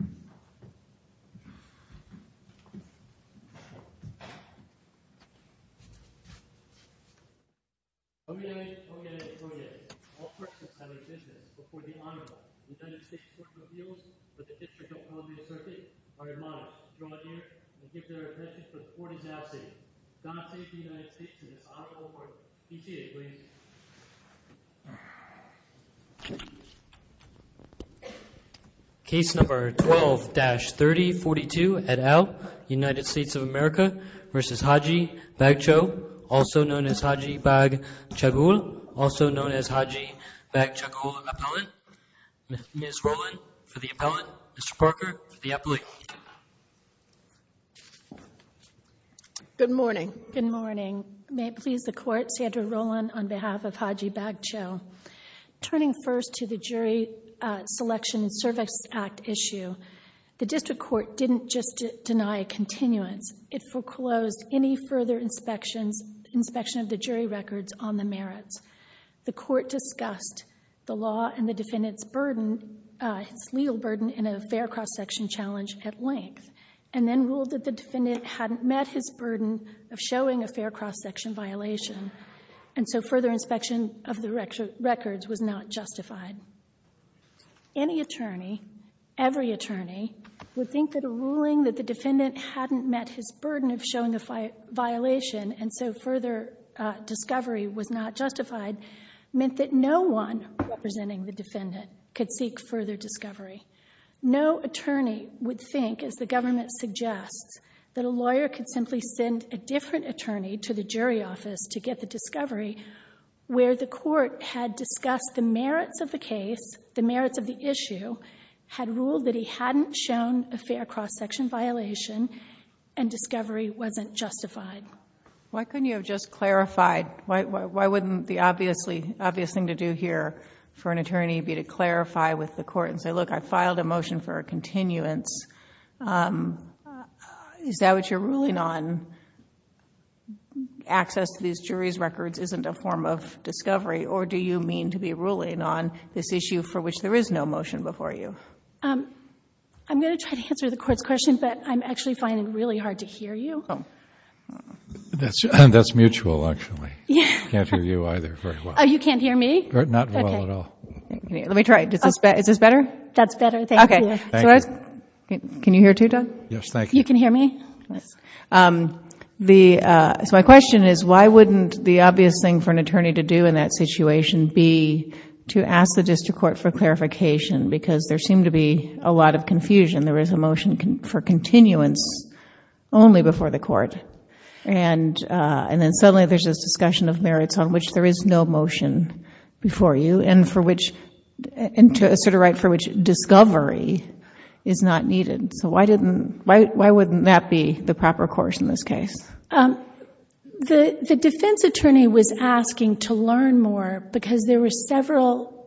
O United, O United, O United. All persons having business before the Honorable United States Court of Appeals for the District of Columbia Circuit are admonished to draw near and give their attention to the court in doubt state. Donate to the United States through this Honorable Court. PCA, please. Case number 12-3042 et al., United States of America v. Haji Bagcho, also known as Haji Bagchagul, also known as Haji Bagchagul Appellant. Ms. Rowland for the appellant, Mr. Parker for the appellate. Good morning. Good morning. May it please the court, Sandra Rowland on behalf of Haji Bagcho. Turning first to the Jury Selection and Service Act issue, the district court didn't just deny a continuance. It foreclosed any further inspections, inspection of the jury records on the merits. The court discussed the law and the defendant's burden, his legal burden in a fair cross-section challenge at length, and then ruled that the defendant hadn't met his burden of showing a fair cross-section violation, and so further inspection of the records was not justified. Any attorney, every attorney, would think that a ruling that the defendant hadn't met his burden of showing a violation and so further discovery was not justified meant that no one representing the defendant could seek further discovery. No attorney would think, as the government suggests, that a lawyer could simply send a different attorney to the jury office to get the discovery where the court had discussed the merits of the case, the merits of the issue, had ruled that he hadn't shown a fair cross-section violation, and discovery wasn't justified. Why couldn't you have just clarified? Why wouldn't the obvious thing to do here for an attorney be to clarify with the court and say, look, I filed a motion for a continuance? Is that what you're ruling on? Access to these jury's records isn't a form of discovery, or do you mean to be ruling on this issue for which there is no motion before you? I'm going to try to answer the court's question, but I'm actually finding it really hard to hear you. That's mutual, actually. I can't hear you either very well. Oh, you can't hear me? Not well at all. Let me try. Is this better? That's better. Thank you. Can you hear too, Doug? Yes, thank you. You can hear me? Yes. My question is, why wouldn't the obvious thing for an attorney to do in that situation be to ask the district court for clarification? Because there seemed to be a lot of confusion. There is a motion for continuance only before the court, and then suddenly there's this discussion of merits on which there is no motion before you, and to assert a right for which discovery is not needed. Why wouldn't that be the proper course in this case? The defense attorney was asking to learn more because there were several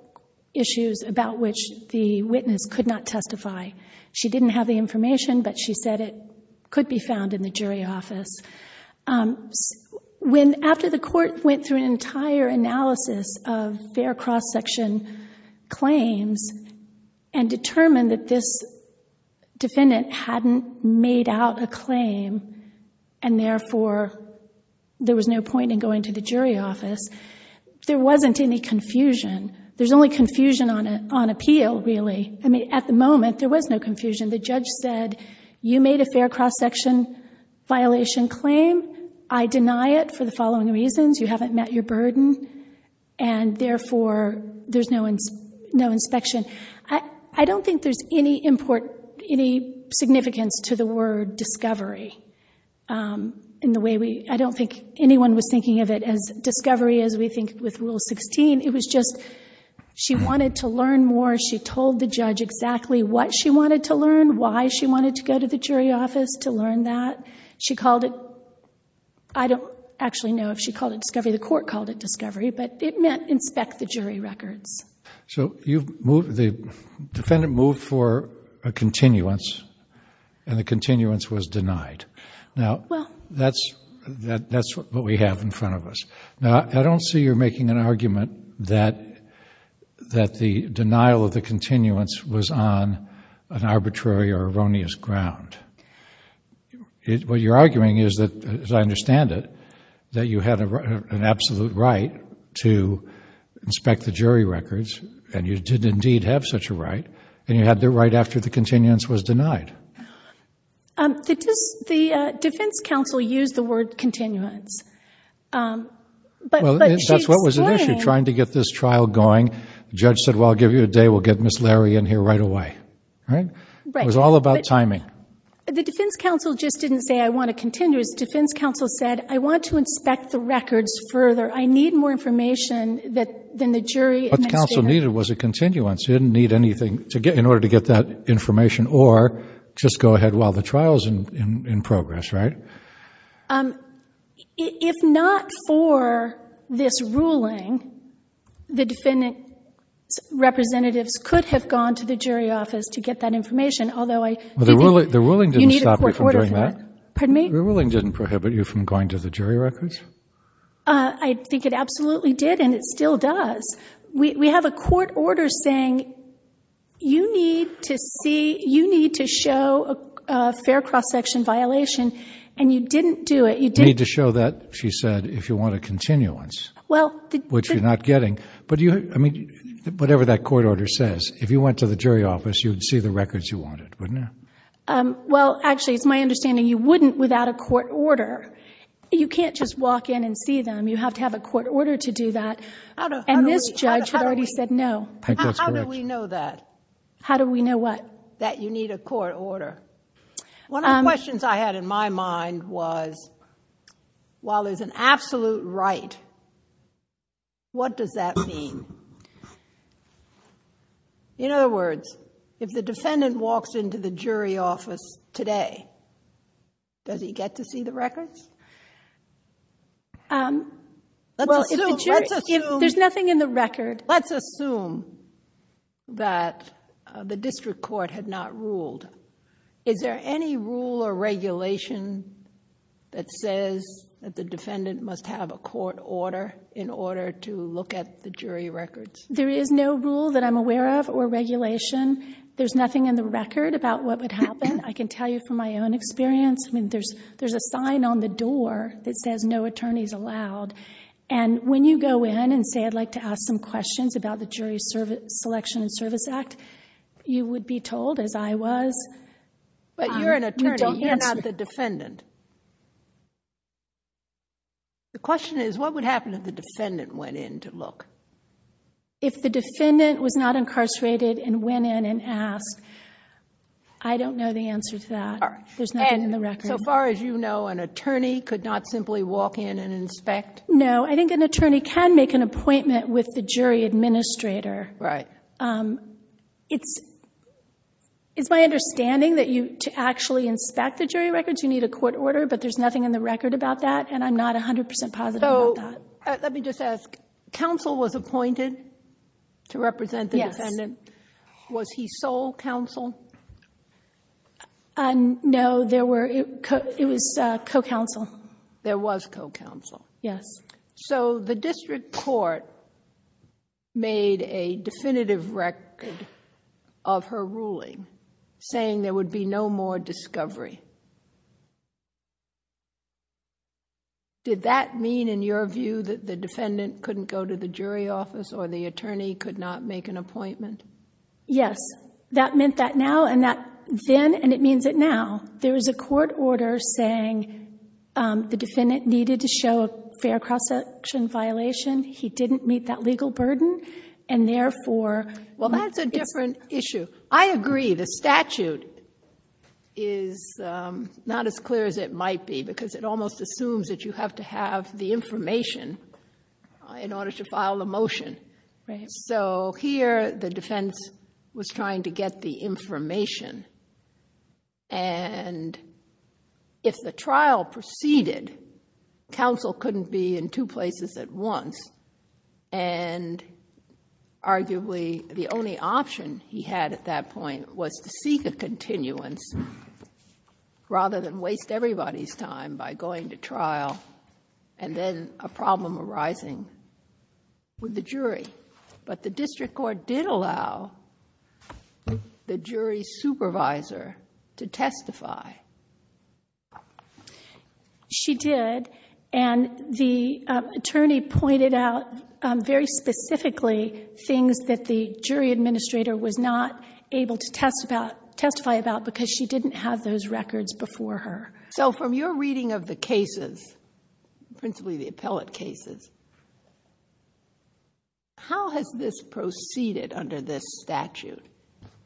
issues about which the witness could not testify. She didn't have the information, but she said it could be found in the jury office. After the court went through an entire analysis of fair cross-section claims and determined that this defendant hadn't made out a claim, and therefore there was no point in going to the jury office, there wasn't any confusion. There's only confusion on appeal, really. At the moment, there was no confusion. The judge said, you made a fair cross-section violation claim. I deny it for the following reasons. You haven't met your burden, and therefore there's no inspection. I don't think there's any importance, any significance to the word discovery. I don't think anyone was thinking of it as discovery as we think with Rule 16. It was just she wanted to learn more. She told the judge exactly what she wanted to learn, why she wanted to go to the jury office to learn that. She called it—I don't actually know if she called it discovery. The court called it discovery, but it meant inspect the jury records. The defendant moved for a continuance, and the continuance was denied. That's what we have in front of us. Now, I don't see you're making an argument that the denial of the continuance was on an arbitrary or erroneous ground. What you're arguing is that, as I understand it, that you had an absolute right to inspect the jury records, and you did indeed have such a right, and you had the right after the continuance was denied. The defense counsel used the word continuance. That's what was at issue, trying to get this trial going. The judge said, well, I'll give you a day. We'll get Ms. Larry in here right away. It was all about timing. The defense counsel just didn't say, I want a continuance. The defense counsel said, I want to inspect the records further. I need more information than the jury. What the counsel needed was a continuance. She didn't need anything in order to get that information, or just go ahead while the trial's in progress, right? If not for this ruling, the defendant's representatives could have gone to the jury office to get that information, although I didn't. The ruling didn't stop you from doing that? You need a court order for that. Pardon me? The ruling didn't prohibit you from going to the jury records? I think it absolutely did, and it still does. We have a court order saying you need to show a fair cross-section violation, and you didn't do it. You need to show that, she said, if you want a continuance, which you're not getting. But whatever that court order says, if you went to the jury office, you would see the records you wanted, wouldn't you? Well, actually, it's my understanding you wouldn't without a court order. You can't just walk in and see them. You have to have a court order to do that. And this judge had already said no. I think that's correct. How do we know that? How do we know what? That you need a court order. One of the questions I had in my mind was, while there's an absolute right, what does that mean? In other words, if the defendant walks into the jury office today, does he get to see the records? There's nothing in the record. Let's assume that the district court had not ruled. Is there any rule or regulation that says that the defendant must have a court order in order to look at the jury records? There is no rule that I'm aware of or regulation. There's nothing in the record about what would happen. I can tell you from my own experience. I mean, there's a sign on the door that says no attorneys allowed. And when you go in and say, I'd like to ask some questions about the Jury Selection and Service Act, you would be told, as I was. But you're an attorney. You're not the defendant. The question is, what would happen if the defendant went in to look? If the defendant was not incarcerated and went in and asked, I don't know the answer to that. There's nothing in the record. So far as you know, an attorney could not simply walk in and inspect? No. I think an attorney can make an appointment with the jury administrator. It's my understanding that to actually inspect the jury records, you need a court order. But there's nothing in the record about that. And I'm not 100% positive about that. Let me just ask. Counsel was appointed to represent the defendant. Was he sole counsel? No. It was co-counsel. There was co-counsel. Yes. So the district court made a definitive record of her ruling, saying there would be no more discovery. Did that mean, in your view, that the defendant couldn't go to the jury office or the attorney could not make an appointment? Yes. That meant that now. And that then, and it means it now, there was a court order saying the defendant needed to show a fair cross-section violation. He didn't meet that legal burden. And therefore, it's a different issue. Well, that's a different issue. I agree. The statute is not as clear as it might be, because it almost assumes that you have to have the information in order to file a motion. So here, the defense was trying to get the information. And if the trial proceeded, counsel couldn't be in two places at once. And arguably, the only option he had at that point was to seek a continuance rather than waste everybody's time by going to trial and then a problem arising with the jury. But the district court did allow the jury supervisor to testify. She did. And the attorney pointed out, very specifically, things that the jury administrator was not able to testify about because she didn't have those records before her. So from your reading of the cases, principally the appellate cases, how has this proceeded under this statute?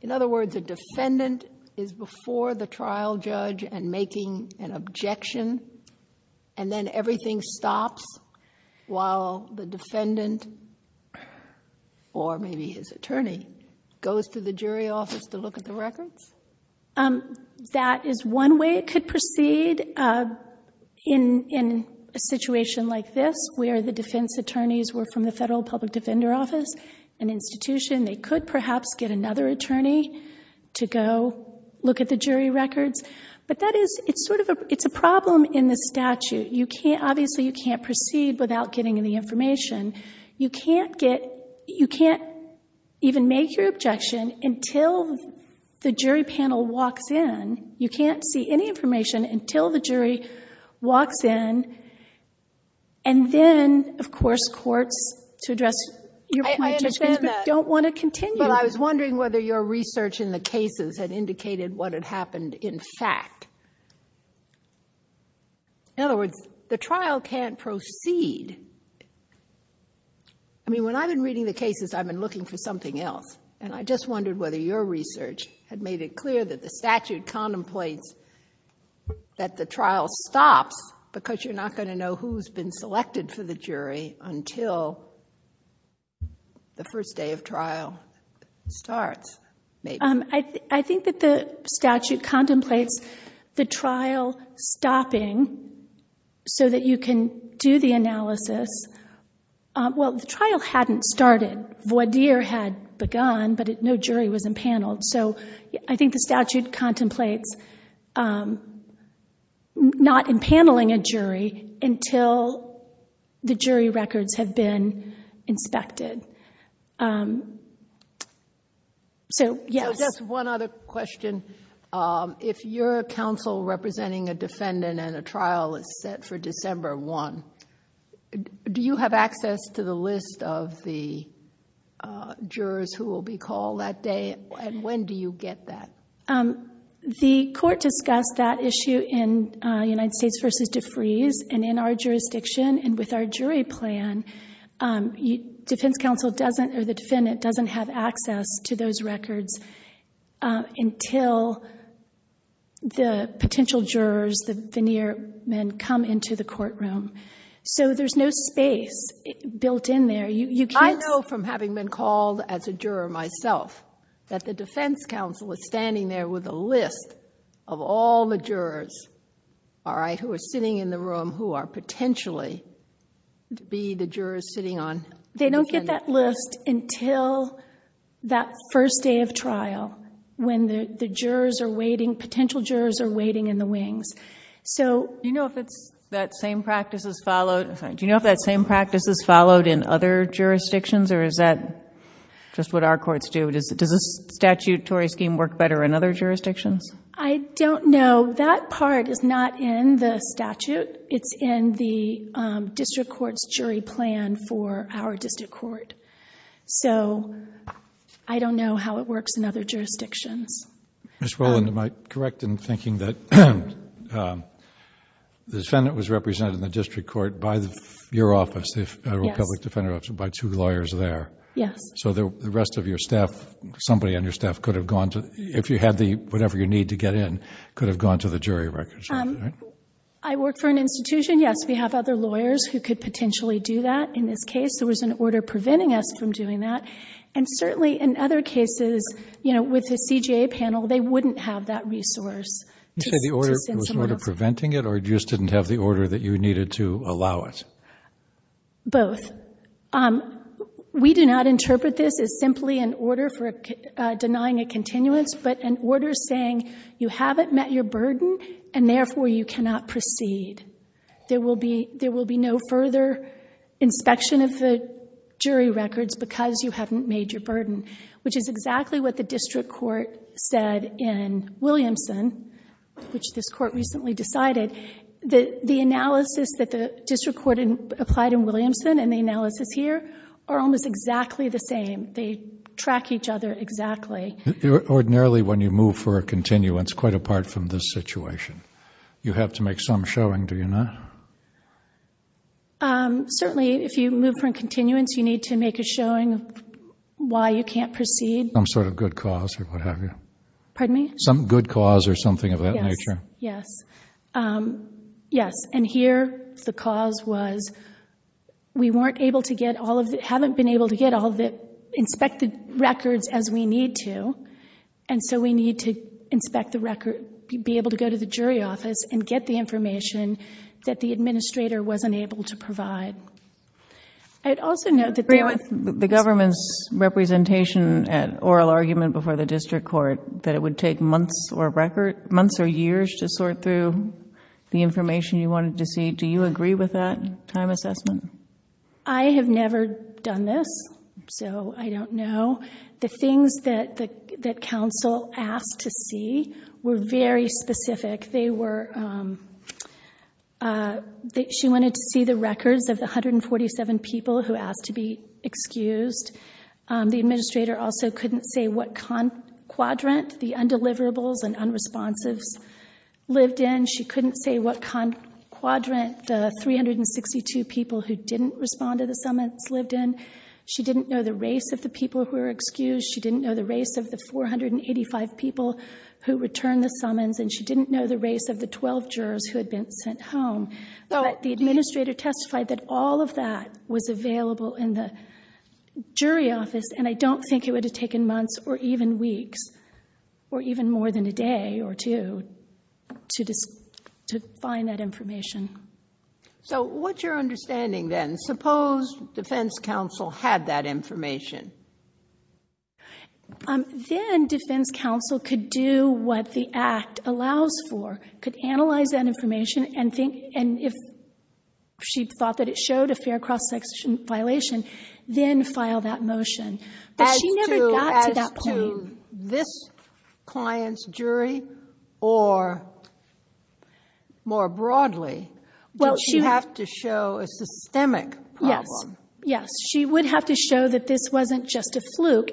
In other words, a defendant is before the trial judge and making an objection and then everything stops while the defendant or maybe his attorney goes to the jury office to look at the records? That is one way it could proceed in a situation like this where the defense attorneys were from the Federal Public Defender Office, an institution. They could perhaps get another attorney to go look at the jury records. It's a problem in the statute. Obviously, you can't proceed without getting any information. You can't even make your objection until the jury panel walks in. You can't see any information until the jury walks in. And then, of course, courts, to address your point, don't want to continue. But I was wondering whether your research in the cases had indicated what had happened in fact. In other words, the trial can't proceed. When I've been reading the cases, I've been looking for something else, and I just wondered whether your research had made it clear that the statute contemplates that the trial stops because you're not going to know who's been selected for the jury until the first day of trial starts. I think that the statute contemplates the trial stopping so that you can do the analysis. Well, the trial hadn't started. Voidir had begun, but no jury was impaneled. So I think the statute contemplates not impaneling a jury until the jury records have been inspected. Just one other question. If your counsel representing a defendant and a trial is set for December 1, do you have access to the list of the jurors who will be called that day, and when do you get that? The court discussed that issue in United States v. DeFreeze, and in our jurisdiction and with our jury plan, the defendant doesn't have access to those records until the potential jurors, the veneer men, come into the courtroom. So there's no space built in there. I know from having been called as a juror myself that the defense counsel is standing there with a list of all the jurors who are sitting in the room who are potentially to be the jurors sitting on the defendant's side. They don't get that list until that first day of trial when the potential jurors are waiting in the wings. Do you know if that same practice is followed in other jurisdictions, or is that just what our courts do? Does the statutory scheme work better in other jurisdictions? I don't know. That part is not in the statute. It's in the district court's jury plan for our district court. So I don't know how it works in other jurisdictions. Ms. Rowland, am I correct in thinking that the defendant was represented in the district court by your office, the Federal Public Defender Office, by two lawyers there? Yes. So the rest of your staff, somebody on your staff could have gone to, if you had the whatever you need to get in, could have gone to the jury records office, right? I work for an institution, yes. We have other lawyers who could potentially do that. In this case, there was an order preventing us from doing that. And certainly in other cases, you know, with the CJA panel, they wouldn't have that resource to send someone else. Did you say the order was preventing it, or you just didn't have the order that you needed to allow it? Both. We do not interpret this as simply an order for denying a continuance, but an order saying you haven't met your burden, and therefore you cannot proceed. There will be no further inspection of the jury records because you haven't made your burden, which is exactly what the district court said in Williamson, which this court recently decided. The analysis that the district court applied in Williamson and the analysis here are almost exactly the same. They track each other exactly. Ordinarily, when you move for a continuance, quite apart from this situation, you have to make some showing, do you not? Certainly, if you move for a continuance, you need to make a showing of why you can't proceed. Some sort of good cause or what have you. Pardon me? Some good cause or something of that nature. Yes. Yes, and here the cause was we weren't able to get all of the... haven't been able to get all of the inspected records as we need to, and so we need to inspect the record, be able to go to the jury office and get the information that the administrator wasn't able to provide. I'd also note that there was... The government's representation at oral argument before the district court, that it would take months or years to sort through the information you wanted to see. Do you agree with that time assessment? I have never done this, so I don't know. The things that counsel asked to see were very specific. They were... She wanted to see the records of the 147 people who asked to be excused. The administrator also couldn't say what quadrant the undeliverables and unresponsives lived in. She couldn't say what quadrant the 362 people who didn't respond to the summons lived in. She didn't know the race of the people who were excused. She didn't know the race of the 485 people who returned the summons, and she didn't know the race of the 12 jurors who had been sent home. The administrator testified that all of that was available in the jury office, and I don't think it would have taken months or even weeks, or even more than a day or two, to find that information. What's your understanding then? Suppose defense counsel had that information. Then defense counsel could do what the Act allows for, could analyze that information, and if she thought that it showed a fair cross-section violation, then file that motion. But she never got to that point. As to this client's jury, or more broadly, don't you have to show a systemic problem? Yes. She would have to show that this wasn't just a fluke,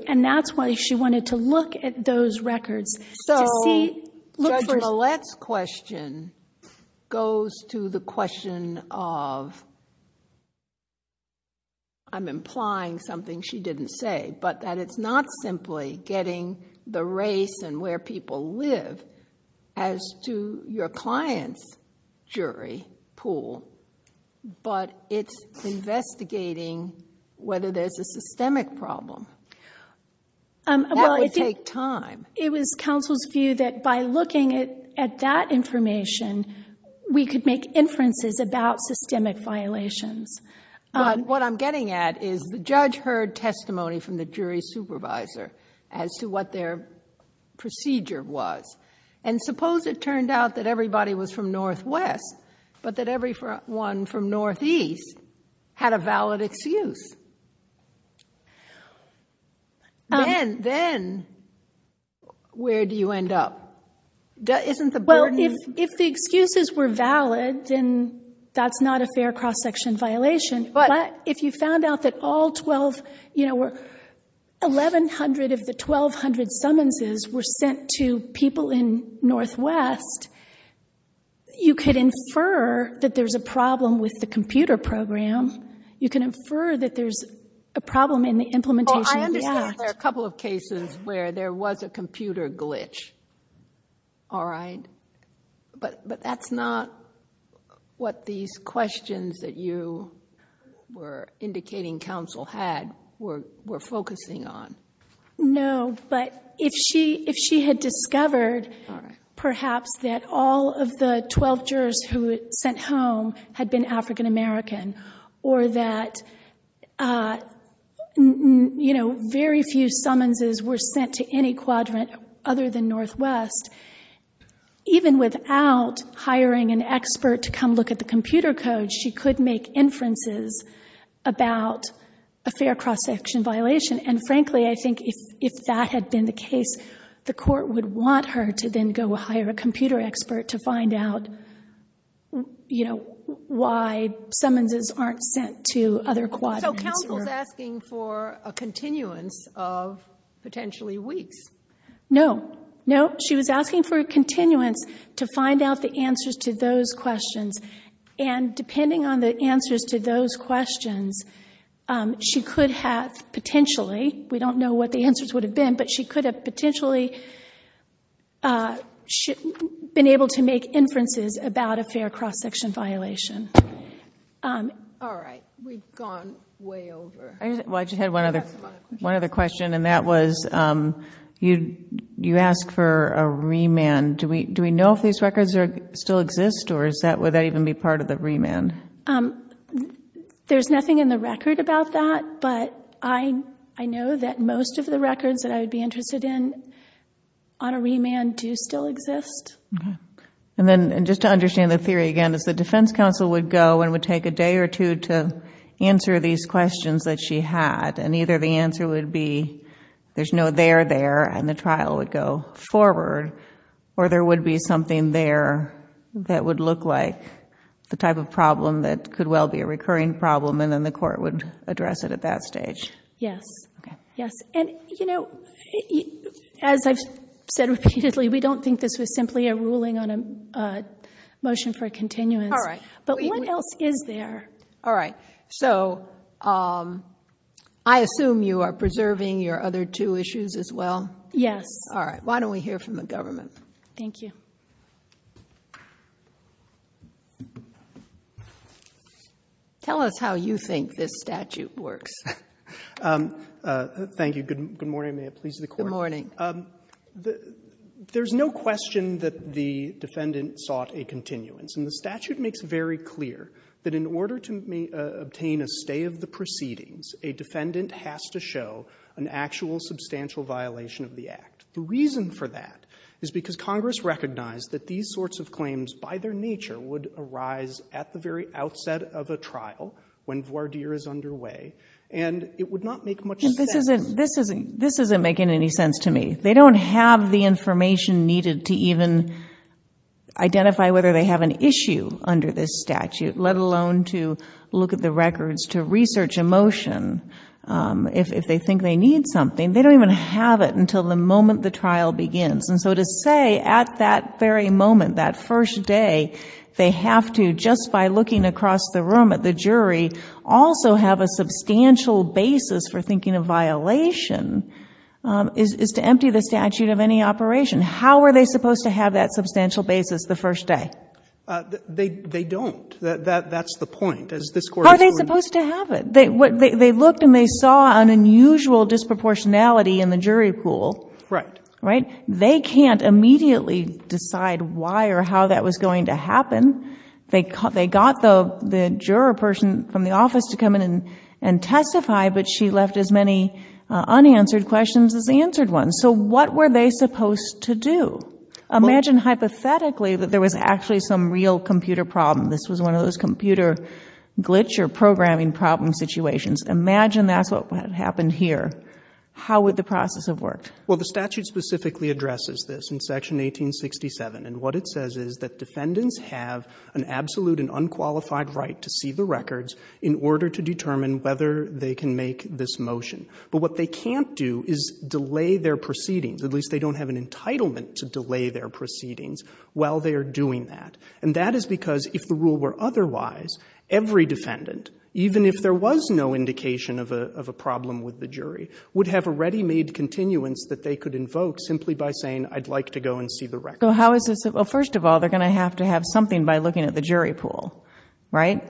Paulette's question goes to the question of, I'm implying something she didn't say, but that it's not simply getting the race and where people live as to your client's jury pool, but it's investigating whether there's a systemic problem. That would take time. It was counsel's view that by looking at that information, we could make inferences about systemic violations. But what I'm getting at is the judge heard testimony from the jury supervisor as to what their procedure was. And suppose it turned out that everybody was from Northwest, but that everyone from Northeast had a valid excuse. Then where do you end up? Well, if the excuses were valid, then that's not a fair cross-section violation. But if you found out that all 1,100 of the 1,200 summonses were sent to people in Northwest, you could infer that there's a problem with the computer program. You can infer that there's a problem in the implementation of the act. Oh, I understand there are a couple of cases where there was a computer glitch. All right. But that's not what these questions that you were indicating counsel had were focusing on. No, but if she had discovered perhaps that all of the 12 jurors who had sent home had been African American or that very few summonses were sent to any quadrant other than Northwest, even without hiring an expert to come look at the computer code, she could make inferences about a fair cross-section violation. And frankly, I think if that had been the case, the Court would want her to then go hire a computer expert to find out, you know, why summonses aren't sent to other quadrants. So counsel is asking for a continuance of potentially weeks. No. No, she was asking for a continuance to find out the answers to those questions. And depending on the answers to those questions, she could have potentially we don't know what the answers would have been, but she could have potentially been able to make inferences about a fair cross-section violation. All right. We've gone way over. Well, I just had one other question, and that was you asked for a remand. Do we know if these records still exist, or would that even be part of the remand? There's nothing in the record about that, but I know that most of the records that I would be interested in on a remand do still exist. Okay. And just to understand the theory again, is the defense counsel would go and would take a day or two to answer these questions that she had, and either the answer would be there's no there there, and the trial would go forward, or there would be something there that would look like the type of problem that could well be a recurring problem, and then the court would address it at that stage. Yes. Okay. Yes. And, you know, as I've said repeatedly, we don't think this was simply a ruling on a motion for a continuance. All right. But what else is there? All right. So I assume you are preserving your other two issues as well? Yes. All right. Why don't we hear from the government? Thank you. Tell us how you think this statute works. Thank you. Good morning. May it please the Court. Good morning. There's no question that the defendant sought a continuance, and the statute makes very clear that in order to obtain a stay of the proceedings, a defendant has to show an actual substantial violation of the act. The reason for that is because Congress recognized that these sorts of claims by their nature would arise at the very outset of a trial when voir dire is underway, and it would not make much sense. This isn't making any sense to me. They don't have the information needed to even identify whether they have an issue under this statute, let alone to look at the records, to research a motion, if they think they need something. They don't even have it until the moment the trial begins. And so to say at that very moment, that first day, they have to just by looking across the room at the jury, also have a substantial basis for thinking a violation is to empty the statute of any operation. How are they supposed to have that substantial basis the first day? They don't. That's the point. Are they supposed to have it? They looked and they saw an unusual disproportionality in the jury pool. Right. They can't immediately decide why or how that was going to happen. They got the juror person from the office to come in and testify, but she left as many unanswered questions as the answered ones. So what were they supposed to do? Imagine hypothetically that there was actually some real computer problem. This was one of those computer glitch or programming problem situations. Imagine that's what happened here. How would the process have worked? Well, the statute specifically addresses this in Section 1867, and what it says is that defendants have an absolute and unqualified right to see the records in order to determine whether they can make this motion. But what they can't do is delay their proceedings. At least they don't have an entitlement to delay their proceedings while they are doing that. And that is because if the rule were otherwise, every defendant, even if there was no indication of a problem with the jury, would have a ready-made continuance that they could invoke simply by saying, I'd like to go and see the records. So how is this? Well, first of all, they're going to have to have something by looking at the jury pool, right?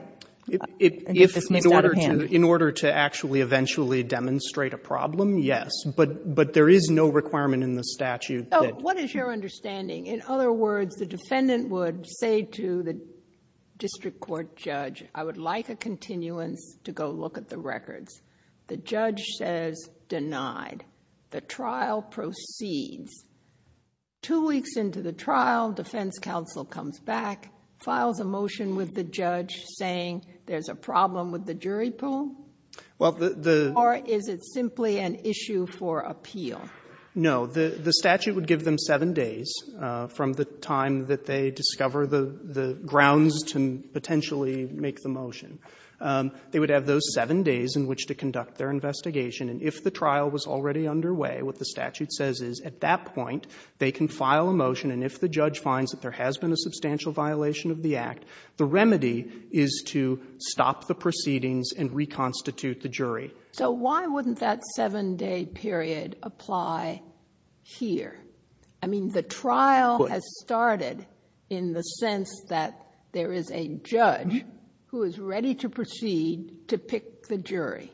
In order to actually eventually demonstrate a problem, yes. But there is no requirement in the statute. Oh, what is your understanding? In other words, the defendant would say to the district court judge, I would like a continuance to go look at the records. The judge says, denied. The trial proceeds. Two weeks into the trial, defense counsel comes back, files a motion with the judge saying there's a problem with the jury pool? Well, the the Or is it simply an issue for appeal? No. The statute would give them seven days from the time that they discover the grounds to potentially make the motion. They would have those seven days in which to conduct their investigation. And if the trial was already underway, what the statute says is, at that point, they can file a motion. And if the judge finds that there has been a substantial violation of the Act, the So why wouldn't that seven-day period apply here? I mean, the trial has started in the sense that there is a judge who is ready to proceed to pick the jury.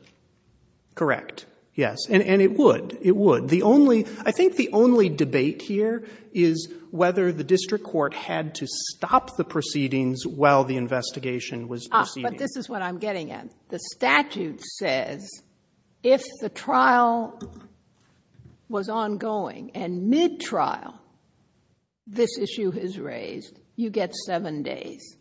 Correct. Yes. And it would. It would. The only — I think the only debate here is whether the district court had to stop the proceedings while the investigation was proceeding. But this is what I'm getting at. The statute says if the trial was ongoing and mid-trial, this issue is raised, you get seven days.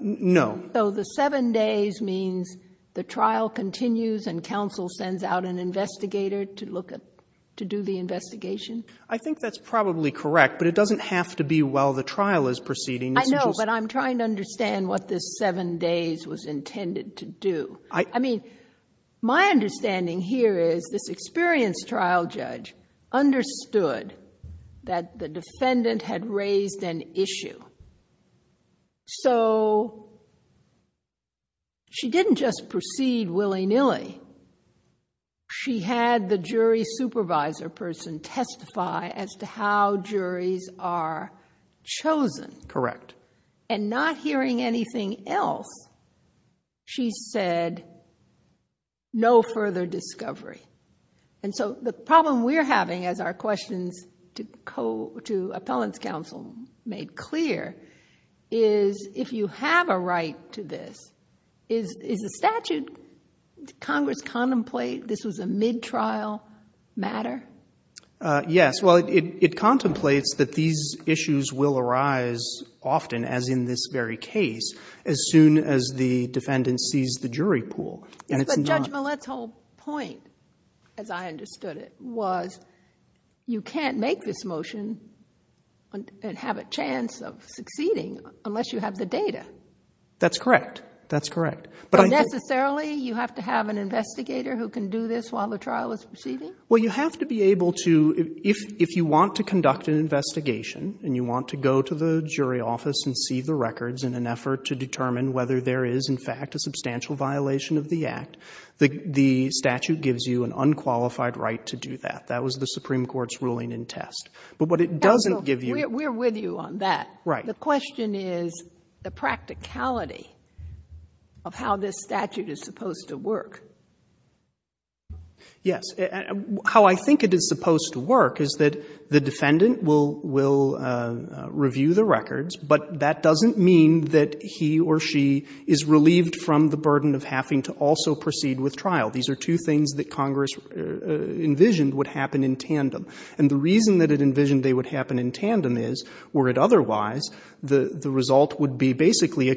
No. So the seven days means the trial continues and counsel sends out an investigator to look at — to do the investigation? I think that's probably correct. But it doesn't have to be while the trial is proceeding. I know, but I'm trying to understand what this seven days was intended to do. I mean, my understanding here is this experienced trial judge understood that the defendant had raised an issue. So she didn't just proceed willy-nilly. She had the jury supervisor person testify as to how juries are chosen. Correct. And not hearing anything else, she said no further discovery. And so the problem we're having, as our questions to appellants counsel made clear, is if you have a right to this, is the statute, Congress contemplate this was a mid-trial matter? Yes. Well, it contemplates that these issues will arise often, as in this very case, as soon as the defendant sees the jury pool. But Judge Millett's whole point, as I understood it, was you can't make this motion and have a chance of succeeding unless you have the data. That's correct. That's correct. But necessarily you have to have an investigator who can do this while the trial is proceeding? Well, you have to be able to, if you want to conduct an investigation and you want to go to the jury office and see the records in an effort to determine whether there is in fact a substantial violation of the Act, the statute gives you an unqualified right to do that. That was the Supreme Court's ruling in test. But what it doesn't give you We're with you on that. Right. The question is the practicality of how this statute is supposed to work. Yes. How I think it is supposed to work is that the defendant will review the records, but that doesn't mean that he or she is relieved from the burden of having to also proceed with trial. These are two things that Congress envisioned would happen in tandem. And the reason that it envisioned they would happen in tandem is, were it otherwise, the result would be basically a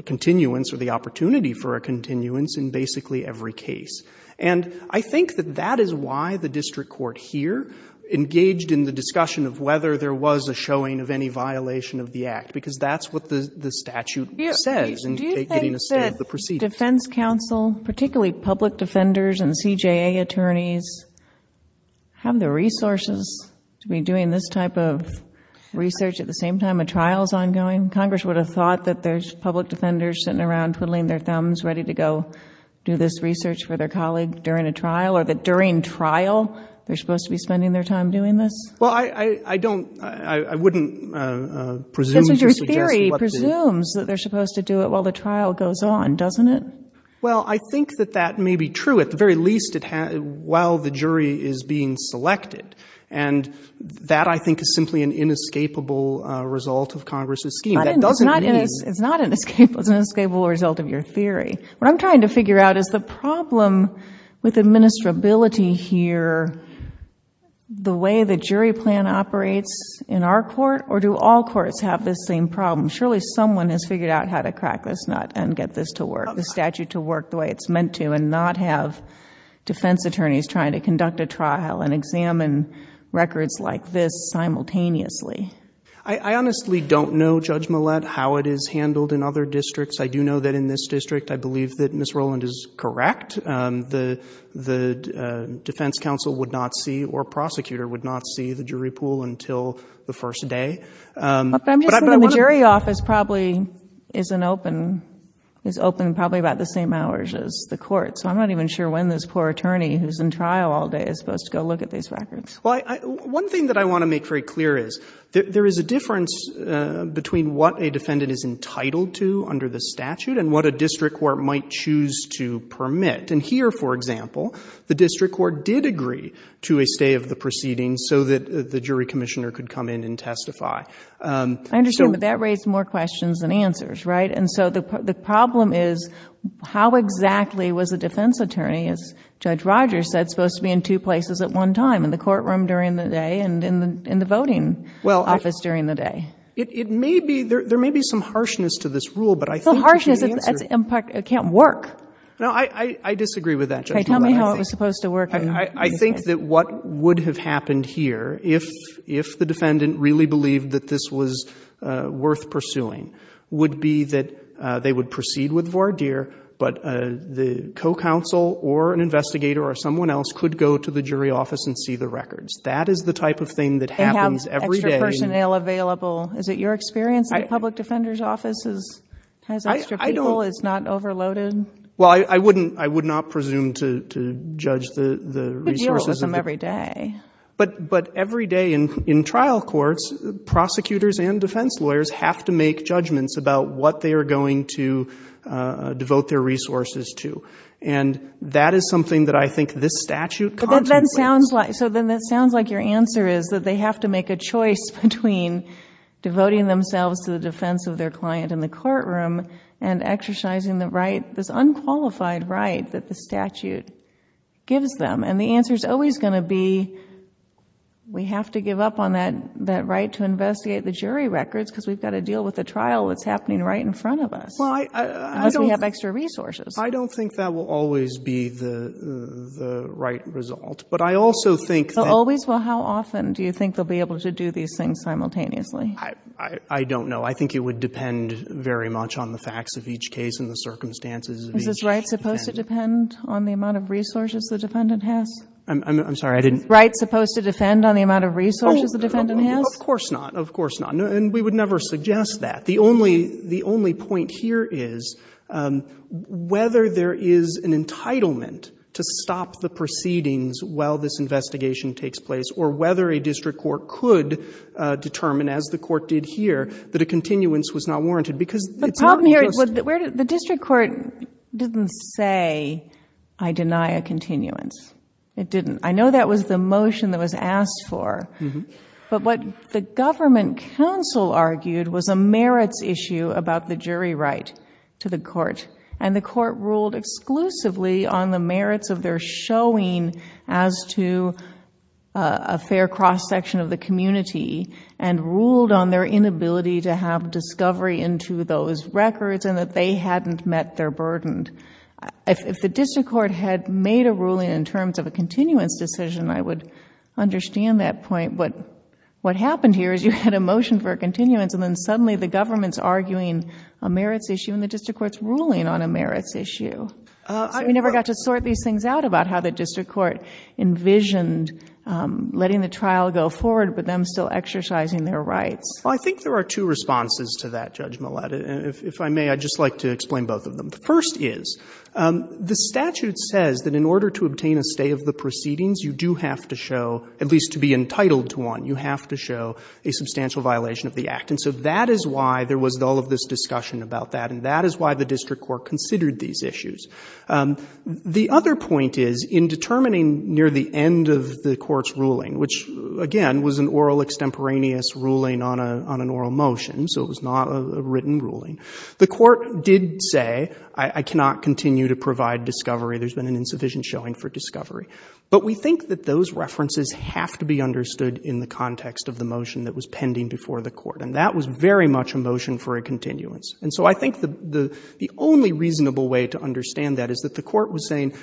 continuance or the opportunity for a continuance in basically every case. And I think that that is why the district court here engaged in the discussion of whether there was a showing of any violation of the Act, because that's what the statute says in getting a state of the proceedings. Do you think that defense counsel, particularly public defenders and CJA attorneys, have the resources to be doing this type of research at the same time a trial is ongoing? Congress would have thought that there's public defenders sitting around twiddling their thumbs, ready to go do this research for their colleague during a trial, or that during trial they're supposed to be spending their time doing this? Well, I don't — I wouldn't presume to suggest what the — Because your theory presumes that they're supposed to do it while the trial goes on, doesn't it? Well, I think that that may be true. At the very least, while the jury is being selected. And that, I think, is simply an inescapable result of Congress's scheme. That doesn't mean — It's not inescapable. It's an inescapable result of your theory. What I'm trying to figure out is the problem with administrability here, the way the jury plan operates in our court, or do all courts have this same problem? Surely someone has figured out how to crack this nut and get this to work, the statute to work the way it's meant to, and not have defense attorneys trying to conduct a trial and examine records like this simultaneously. I honestly don't know, Judge Millett, how it is handled in other districts. I do know that in this district, I believe that Ms. Rowland is correct. The defense counsel would not see or prosecutor would not see the jury pool until the first day. But I'm just saying the jury office probably isn't open — is open probably about the same hours as the court. So I'm not even sure when this poor attorney who's in trial all day is supposed to go look at these records. Well, one thing that I want to make very clear is there is a difference between what a defendant is entitled to under the statute and what a district court might choose to permit. And here, for example, the district court did agree to a stay of the proceedings so that the jury commissioner could come in and testify. I understand, but that raised more questions than answers, right? And so the problem is how exactly was a defense attorney, as Judge Rogers said, supposed to be in two places at one time, in the courtroom during the day and in the voting office during the day? Well, it may be — there may be some harshness to this rule, but I think — Well, harshness, it can't work. No, I disagree with that, Judge Millett. Okay, tell me how it was supposed to work. I think that what would have happened here, if the defendant really believed that this was worth pursuing, would be that they would proceed with voir dire, but the co-counsel or an investigator or someone else could go to the jury office and see the records. That is the type of thing that happens every day. And have extra personnel available. Is it your experience that a public defender's office has extra people, is not overloaded? Well, I wouldn't — I would not presume to judge the resources of the — You could deal with them every day. But every day in trial courts, prosecutors and defense lawyers have to make judgments about what they are going to devote their resources to. And that is something that I think this statute contemplates. But that sounds like — so then that sounds like your answer is that they have to make a choice between devoting themselves to the defense of their client in the courtroom and exercising the right, this unqualified right that the statute gives them. And the answer is always going to be, we have to give up on that right to investigate the jury records because we've got to deal with the trial that's happening right in front of us. Well, I don't — Unless we have extra resources. I don't think that will always be the right result. But I also think that — Always? Well, how often do you think they'll be able to do these things simultaneously? I don't know. I think it would depend very much on the facts of each case and the circumstances of each defendant. Is this right supposed to depend on the amount of resources the defendant has? I'm sorry, I didn't — Right supposed to defend on the amount of resources the defendant has? Of course not. Of course not. And we would never suggest that. The only point here is whether there is an entitlement to stop the proceedings while this investigation takes place or whether a district court could determine, as the court did here, that a continuance was not warranted. Because it's not just — The problem here is the district court didn't say, I deny a continuance. It didn't. I know that was the motion that was asked for. But what the government counsel argued was a merits issue about the jury right to the court. And the court ruled exclusively on the merits of their showing as to a fair cross-section of the community and ruled on their inability to have discovery into those records and that they hadn't met their burden. If the district court had made a ruling in terms of a continuance decision, I would understand that point. But what happened here is you had a motion for a continuance and then suddenly the government's arguing a merits issue and the district court's ruling on a merits issue. So we never got to sort these things out about how the district court envisioned letting the trial go forward but them still exercising their rights. Well, I think there are two responses to that, Judge Millett. If I may, I'd just like to explain both of them. The first is the statute says that in order to obtain a stay of the proceedings you do have to show, at least to be entitled to one, you have to show a substantial violation of the Act. And so that is why there was all of this discussion about that and that is why the district court considered these issues. The other point is in determining near the end of the court's ruling, which again was an oral extemporaneous ruling on an oral motion, so it was not a written ruling, the court did say I cannot continue to provide discovery, there's been an insufficient showing for discovery. But we think that those references have to be understood in the context of the motion that was pending before the court. And that was very much a motion for a continuance. And so I think the only reasonable way to understand that is that the court was saying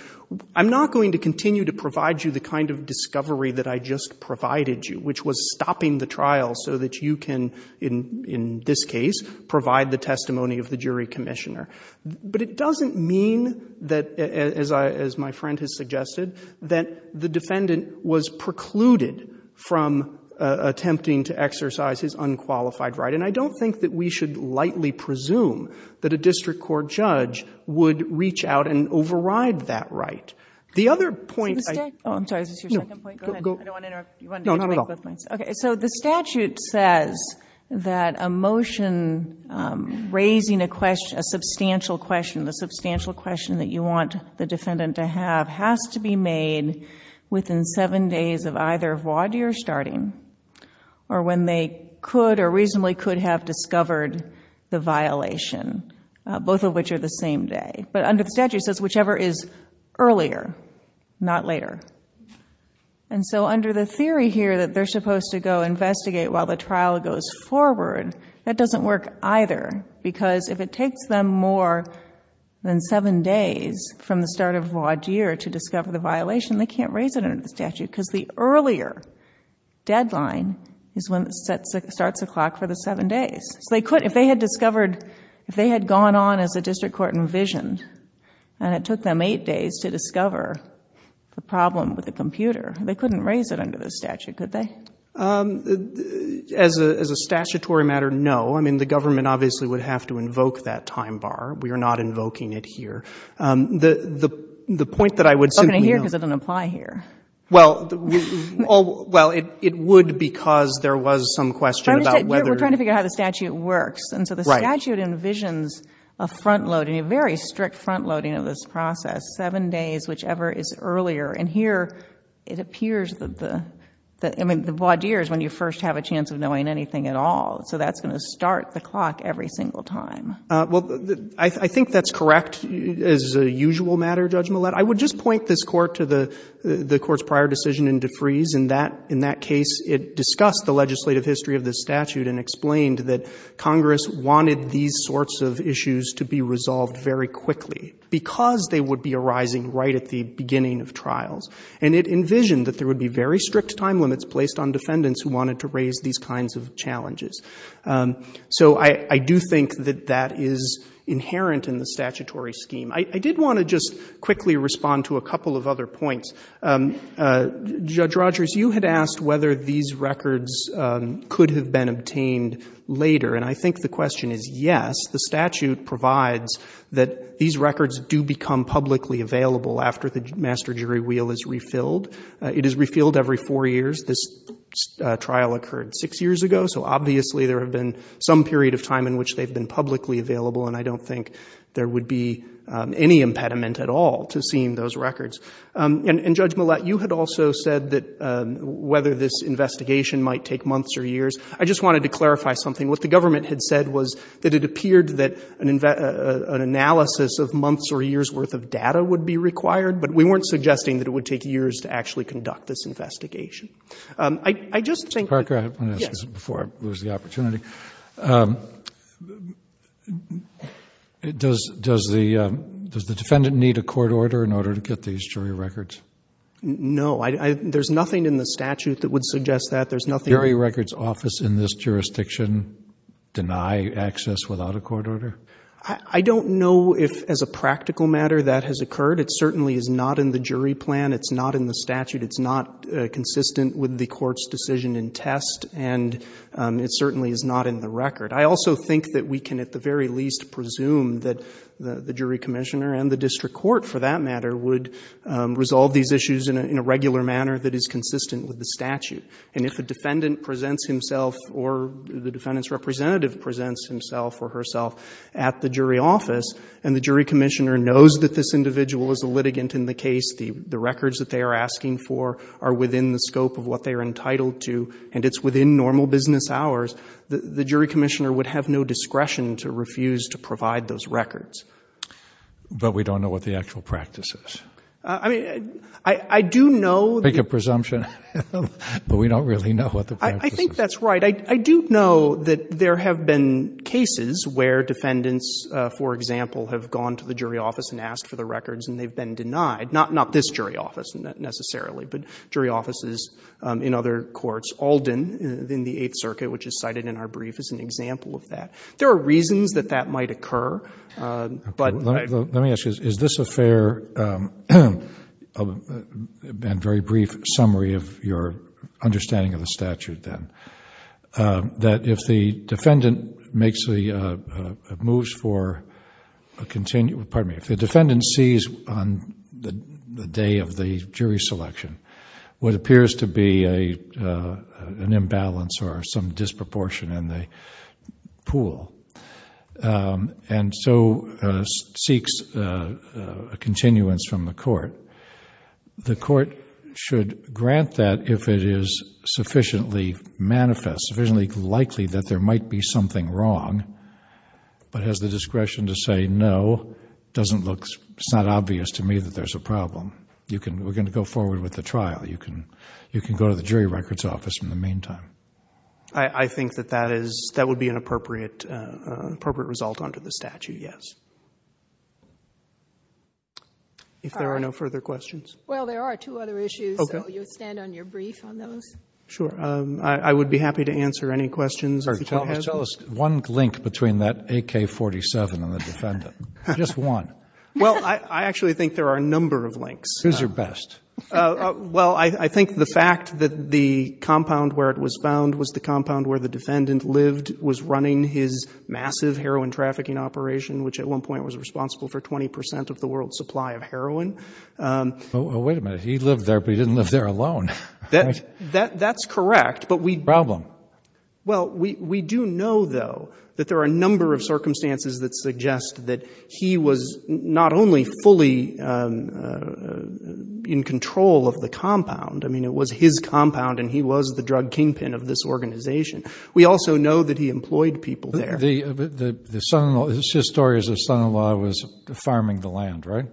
I'm not going to continue to provide you the kind of discovery that I just provided you, which was stopping the trial so that you can, in this case, provide the testimony of the jury commissioner. But it doesn't mean that, as my friend has suggested, that the defendant was precluded from attempting to exercise his unqualified right. And I don't think that we should lightly presume that a district court judge would reach out and override that right. The other point I – Oh, I'm sorry. Is this your second point? Go ahead. I don't want to interrupt. You wanted to make both points. Okay. So the statute says that a motion raising a question, a substantial question, the substantial question that you want the defendant to have has to be made within seven days of either vaude or starting, or when they could or reasonably could have discovered the violation, both of which are the same day. But under the statute it says whichever is earlier, not later. And so under the theory here that they're supposed to go investigate while the trial goes forward, that doesn't work either. Because if it takes them more than seven days from the start of vaude or to discover the violation, they can't raise it under the statute because the earlier deadline is when it starts the clock for the seven days. So they couldn't, if they had discovered, if they had gone on as the district court envisioned, and it took them eight days to discover the problem with the computer, they couldn't raise it under the statute, could they? As a statutory matter, no. I mean, the government obviously would have to invoke that time bar. We are not invoking it here. The point that I would simply note— I'm invoking it here because it doesn't apply here. Well, it would because there was some question about whether— We're trying to figure out how the statute works. Right. The statute envisions a front-loading, a very strict front-loading of this process, seven days, whichever is earlier. And here it appears that the vaude is when you first have a chance of knowing anything at all. So that's going to start the clock every single time. Well, I think that's correct as a usual matter, Judge Millett. I would just point this Court to the Court's prior decision in DeFries. In that case, it discussed the legislative history of the statute and explained that Congress wanted these sorts of issues to be resolved very quickly because they would be arising right at the beginning of trials. And it envisioned that there would be very strict time limits placed on defendants who wanted to raise these kinds of challenges. So I do think that that is inherent in the statutory scheme. I did want to just quickly respond to a couple of other points. Judge Rogers, you had asked whether these records could have been obtained later. And I think the question is yes. The statute provides that these records do become publicly available after the master jury wheel is refilled. It is refilled every four years. This trial occurred six years ago, so obviously there have been some period of time in which they've been publicly available, and I don't think there would be any impediment at all to seeing those records. And Judge Millett, you had also said that whether this investigation might take months or years. I just wanted to clarify something. What the government had said was that it appeared that an analysis of months or years' worth of data would be required, but we weren't suggesting that it would take years to actually conduct this investigation. I just think that— Mr. Parker, I have one question before I lose the opportunity. Yes. Does the defendant need a court order in order to get these jury records? No. There's nothing in the statute that would suggest that. There's nothing— Does the jury records office in this jurisdiction deny access without a court order? I don't know if, as a practical matter, that has occurred. It certainly is not in the jury plan. It's not in the statute. It's not consistent with the court's decision in test, and it certainly is not in the record. I also think that we can, at the very least, presume that the jury commissioner and the district court, for that matter, would resolve these issues in a regular manner that is consistent with the statute. And if a defendant presents himself or the defendant's representative presents himself or herself at the jury office and the jury commissioner knows that this individual is a litigant in the case, the records that they are asking for are within the scope of what they are entitled to and it's within normal business hours, the jury commissioner would have no discretion to refuse to provide those records. But we don't know what the actual practice is. I mean, I do know— Make a presumption. But we don't really know what the practice is. I think that's right. I do know that there have been cases where defendants, for example, have gone to the jury office and asked for the records and they've been denied, not this jury office necessarily, but jury offices in other courts. Alden in the Eighth Circuit, which is cited in our brief, is an example of that. There are reasons that that might occur, but— Let me ask you, is this a fair and very brief summary of your understanding of the statute then? That if the defendant makes the—moves for—pardon me, if the defendant sees on the day of the jury selection what appears to be an imbalance or some disproportion in the pool, and so seeks a continuance from the court, the court should grant that if it is sufficiently manifest, sufficiently likely that there might be something wrong, but has the discretion to say no doesn't look—it's not obvious to me that there's a problem. You can—we're going to go forward with the trial. You can go to the jury records office in the meantime. I think that that is—that would be an appropriate result under the statute, yes. If there are no further questions. Well, there are two other issues, so you would stand on your brief on those? Sure. I would be happy to answer any questions. Tell us one link between that AK-47 and the defendant. Just one. Well, I actually think there are a number of links. Who's your best? Well, I think the fact that the compound where it was found was the compound where the defendant lived, was running his massive heroin trafficking operation, which at one point was responsible for 20 percent of the world's supply of heroin. Well, wait a minute. He lived there, but he didn't live there alone, right? That's correct, but we— Problem? Well, we do know, though, that there are a number of circumstances that suggest that he was not only fully in control of the compound. I mean, it was his compound and he was the drug kingpin of this organization. We also know that he employed people there. The son-in-law—his story is his son-in-law was farming the land, right?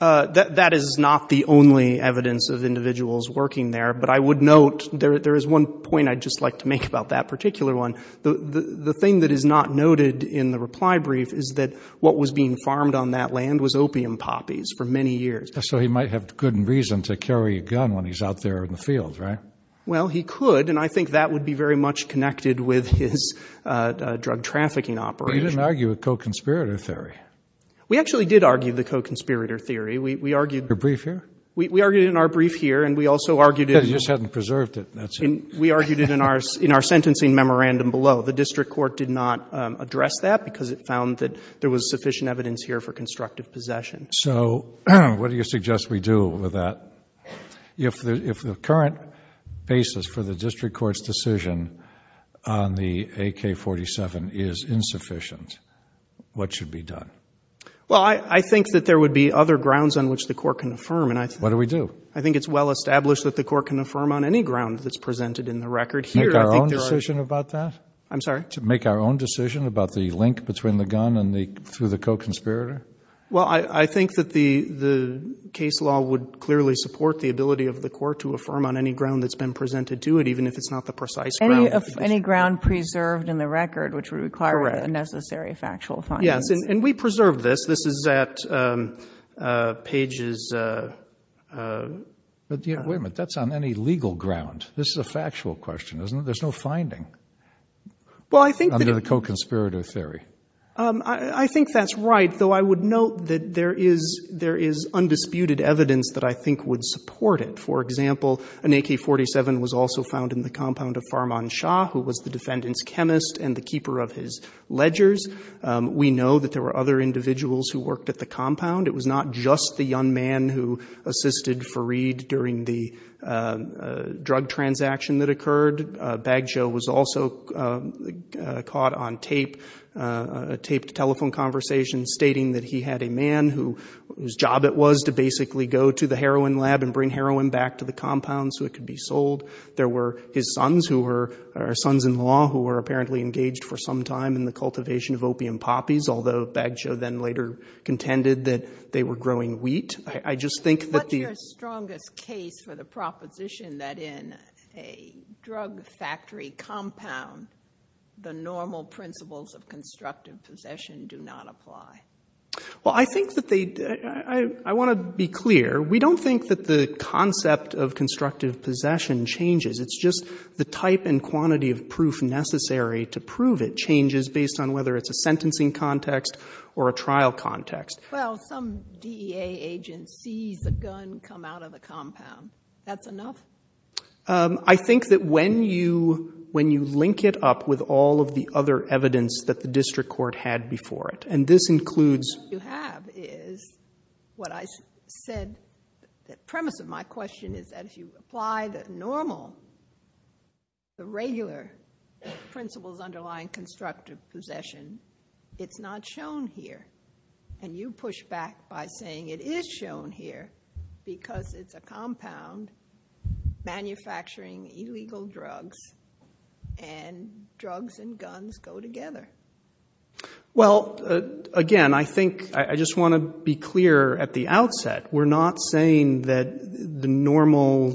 That is not the only evidence of individuals working there, but I would note there is one point I'd just like to make about that particular one. The thing that is not noted in the reply brief is that what was being farmed on that land was opium poppies for many years. So he might have good reason to carry a gun when he's out there in the field, right? Well, he could, and I think that would be very much connected with his drug trafficking operation. But you didn't argue a co-conspirator theory. We actually did argue the co-conspirator theory. We argued— Your brief here? We argued it in our brief here, and we also argued it— You said you just hadn't preserved it. We argued it in our sentencing memorandum below. The district court did not address that because it found that there was sufficient evidence here for constructive possession. So what do you suggest we do with that? If the current basis for the district court's decision on the AK-47 is insufficient, what should be done? Well, I think that there would be other grounds on which the court can affirm. What do we do? I think it's well established that the court can affirm on any ground that's presented in the record here. I think there are— Make our own decision about that? I'm sorry? Make our own decision about the link between the gun and the—through the co-conspirator? Well, I think that the case law would clearly support the ability of the court to affirm on any ground that's been presented to it, even if it's not the precise ground. Any ground preserved in the record, which would require the necessary factual findings. Correct. Yes, and we preserve this. This is at Page's— Wait a minute. That's on any legal ground. This is a factual question, isn't it? There's no finding. Well, I think that— Under the co-conspirator theory. I think that's right, though I would note that there is undisputed evidence that I think would support it. For example, an AK-47 was also found in the compound of Farman Shah, who was the defendant's chemist and the keeper of his ledgers. We know that there were other individuals who worked at the compound. It was not just the young man who assisted Fareed during the drug transaction that occurred. Baggio was also caught on tape, taped telephone conversations, stating that he had a man whose job it was to basically go to the heroin lab and bring heroin back to the compound so it could be sold. There were his sons who were—or sons-in-law who were apparently engaged for some time in the cultivation of opium poppies, although Baggio then later contended that they were growing wheat. I just think that the— What's your strongest case for the proposition that in a drug factory compound, the normal principles of constructive possession do not apply? Well, I think that they—I want to be clear. We don't think that the concept of constructive possession changes. It's just the type and quantity of proof necessary to prove it changes based on whether it's a sentencing context or a trial context. Well, some DEA agent sees a gun come out of the compound. That's enough? I think that when you link it up with all of the other evidence that the district court had before it, and this includes— What you have is what I said—the premise of my question is that if you apply the normal, the regular principles underlying constructive possession, it's not shown here. And you push back by saying it is shown here because it's a compound manufacturing illegal drugs and drugs and guns go together. Well, again, I think—I just want to be clear at the outset. We're not saying that the normal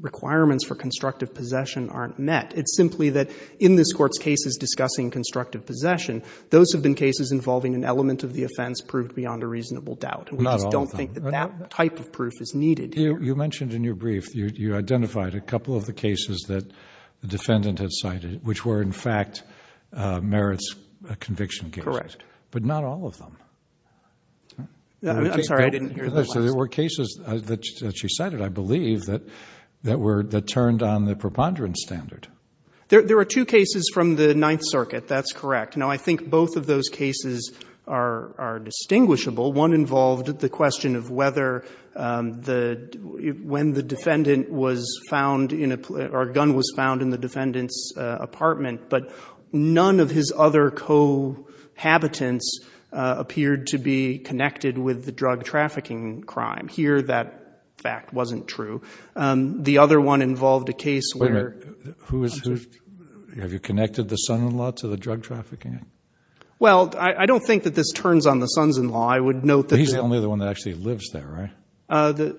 requirements for constructive possession aren't met. It's simply that in this Court's cases discussing constructive possession, those have been cases involving an element of the offense proved beyond a reasonable doubt. Not all of them. And we just don't think that that type of proof is needed here. You mentioned in your brief, you identified a couple of the cases that the defendant had cited which were, in fact, merits conviction cases. Correct. But not all of them. I'm sorry. I didn't hear that last. There were cases that she cited, I believe, that turned on the preponderance standard. There were two cases from the Ninth Circuit. That's correct. Now, I think both of those cases are distinguishable. One involved the question of whether the—when the defendant was found in a—or a gun was found in the defendant's apartment, but none of his other cohabitants appeared to be connected with the drug trafficking crime. Here, that fact wasn't true. The other one involved a case where— Wait a minute. Who is—have you connected the son-in-law to the drug trafficking? Well, I don't think that this turns on the sons-in-law. I would note that— He's the only other one that actually lives there, right?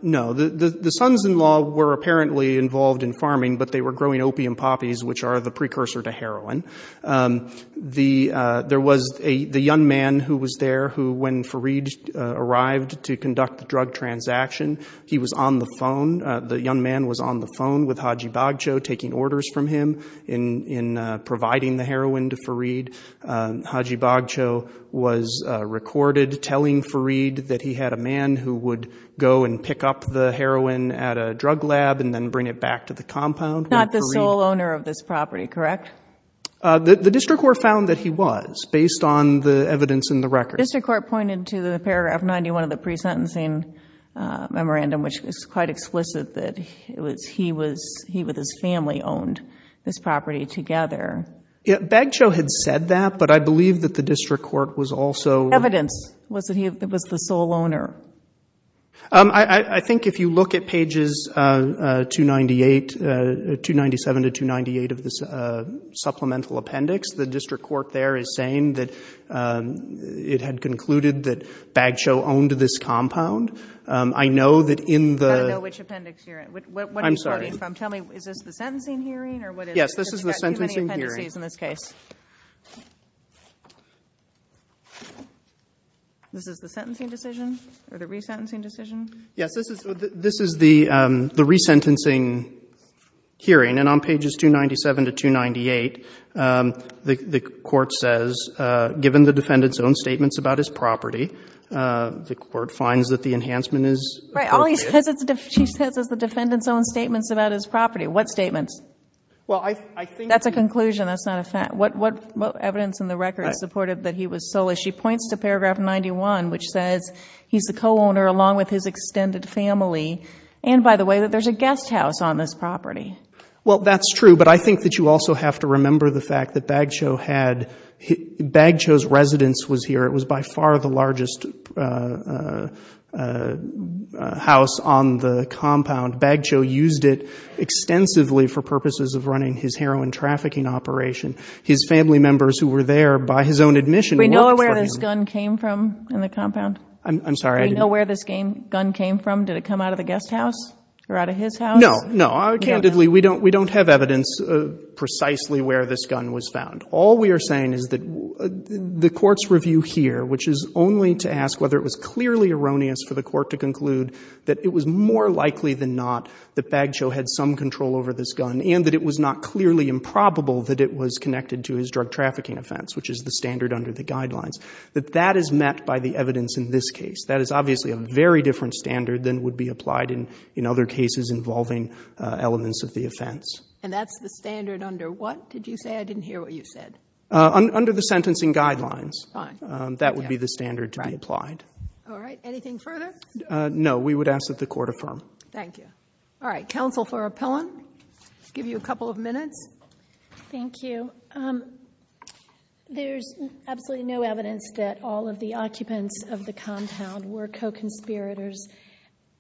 No. The sons-in-law were apparently involved in farming, but they were growing opium poppies, which are the precursor to heroin. There was a—the young man who was there who, when Fareed arrived to conduct the drug transaction, he was on the phone. The young man was on the phone with Haji Bagchow taking orders from him in providing the heroin to Fareed. Haji Bagchow was recorded telling Fareed that he had a man who would go and pick up the heroin at a drug lab and then bring it back to the compound. Not the sole owner of this property, correct? The district court found that he was, based on the evidence in the record. The district court pointed to the paragraph 91 of the pre-sentencing memorandum, which is quite explicit that it was—he was—he with his family owned this property together. Bagchow had said that, but I believe that the district court was also— Evidence was that he was the sole owner. I think if you look at pages 298—297 to 298 of this supplemental appendix, the district court there is saying that it had concluded that Bagchow owned this compound. I know that in the— I don't know which appendix you're— I'm sorry. What are you starting from? Tell me, is this the sentencing hearing, or what is— Yes, this is the sentencing hearing. You've got too many appendices in this case. This is the sentencing decision, or the re-sentencing decision? Yes, this is the re-sentencing hearing. And on pages 297 to 298, the court says, given the defendant's own statements about his property, the court finds that the enhancement is appropriate. Right. All he says is the defendant's own statements about his property. What statements? Well, I think— That's a conclusion. That's not a fact. What evidence in the record is supportive that he was sole? She points to paragraph 91, which says he's the co-owner along with his extended family, and, by the way, that there's a guest house on this property. Well, that's true, but I think that you also have to remember the fact that Bagchow had— Bagchow's residence was here. It was by far the largest house on the compound. Bagchow used it extensively for purposes of running his heroin trafficking operation. His family members who were there by his own admission worked for him. Do we know where this gun came from in the compound? I'm sorry. Do we know where this gun came from? Did it come out of the guest house or out of his house? No. No. Candidly, we don't have evidence precisely where this gun was found. All we are saying is that the Court's review here, which is only to ask whether it was clearly erroneous for the Court to conclude that it was more likely than not that Bagchow had some control over this gun and that it was not clearly improbable that it was connected to his drug trafficking offense, which is the standard under the guidelines, that that is met by the evidence in this case. That is obviously a very different standard than would be applied in other cases involving elements of the offense. And that's the standard under what? Did you say? I didn't hear what you said. Under the sentencing guidelines. Fine. That would be the standard to be applied. All right. Anything further? No. We would ask that the Court affirm. Thank you. All right. Counsel for Appellant. Give you a couple of minutes. Thank you. There's absolutely no evidence that all of the occupants of the compound were co-conspirators,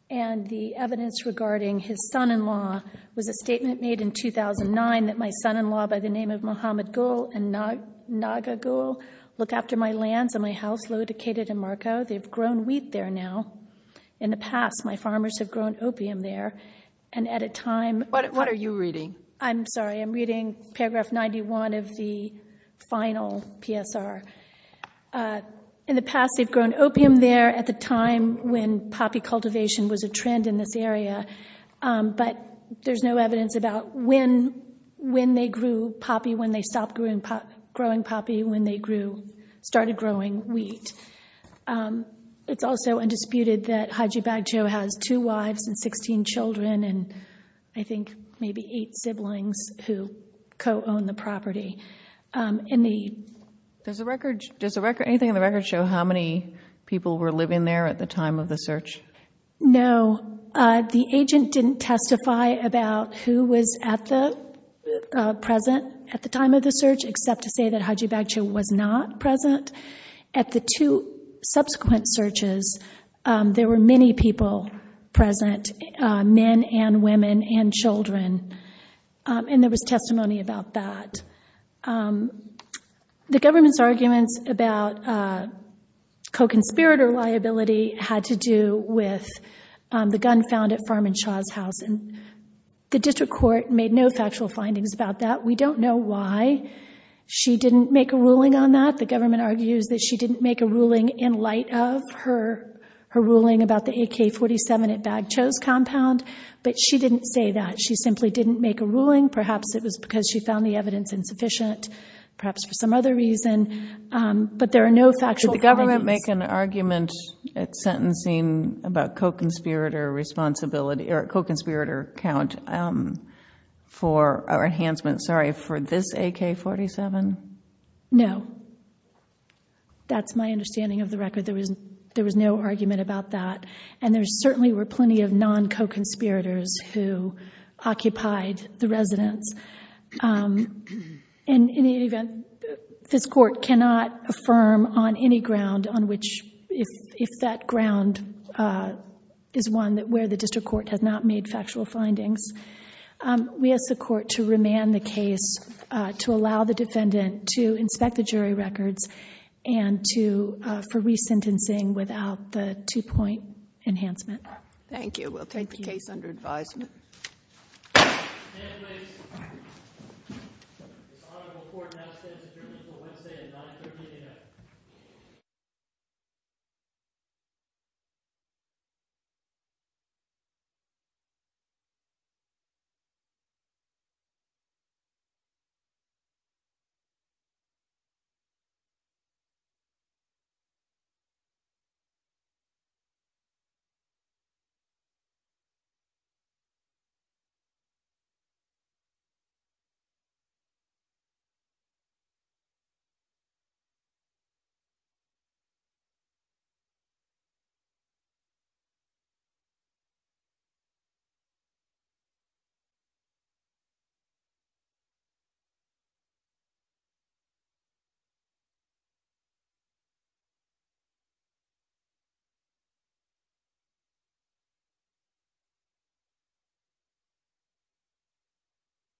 and the evidence regarding his son-in-law was a statement made in 2009 that my son-in-law by the name of Muhammad Gul and Naga Gul look after my house located in Marko. They've grown wheat there now. In the past, my farmers have grown opium there. What are you reading? I'm sorry. I'm reading paragraph 91 of the final PSR. In the past, they've grown opium there at the time when poppy cultivation was a trend in this area, but there's no evidence about when they grew poppy, when they stopped growing poppy, when they started growing wheat. It's also undisputed that Haji Baggio has two wives and 16 children and I think maybe eight siblings who co-own the property. Does anything in the records show how many people were living there at the time of the search? No. The agent didn't testify about who was present at the time of the search except to say that Haji Baggio was not present. At the two subsequent searches, there were many people present, men and women and children, and there was testimony about that. The government's arguments about co-conspirator liability had to do with the gun found at Farm and Shaw's house. The district court made no factual findings about that. We don't know why she didn't make a ruling on that. The government argues that she didn't make a ruling in light of her ruling about the AK-47 at Baggio's compound, but she didn't say that. She simply didn't make a ruling. Perhaps it was because she found the evidence insufficient, perhaps for some other reason, but there are no factual findings. Did the government make an argument at sentencing about co-conspirator responsibility or co-conspirator count for enhancement, sorry, for this AK-47? No. That's my understanding of the record. There was no argument about that, and there certainly were plenty of In any event, this court cannot affirm on any ground if that ground is one where the district court has not made factual findings. We ask the court to remand the case to allow the defendant to inspect the jury records for resentencing without the two-point enhancement. Thank you. We'll take the case under advisement. Case placed. This honorable court now stands adjourned until Wednesday at 9.30 a.m. Thank you. Thank you.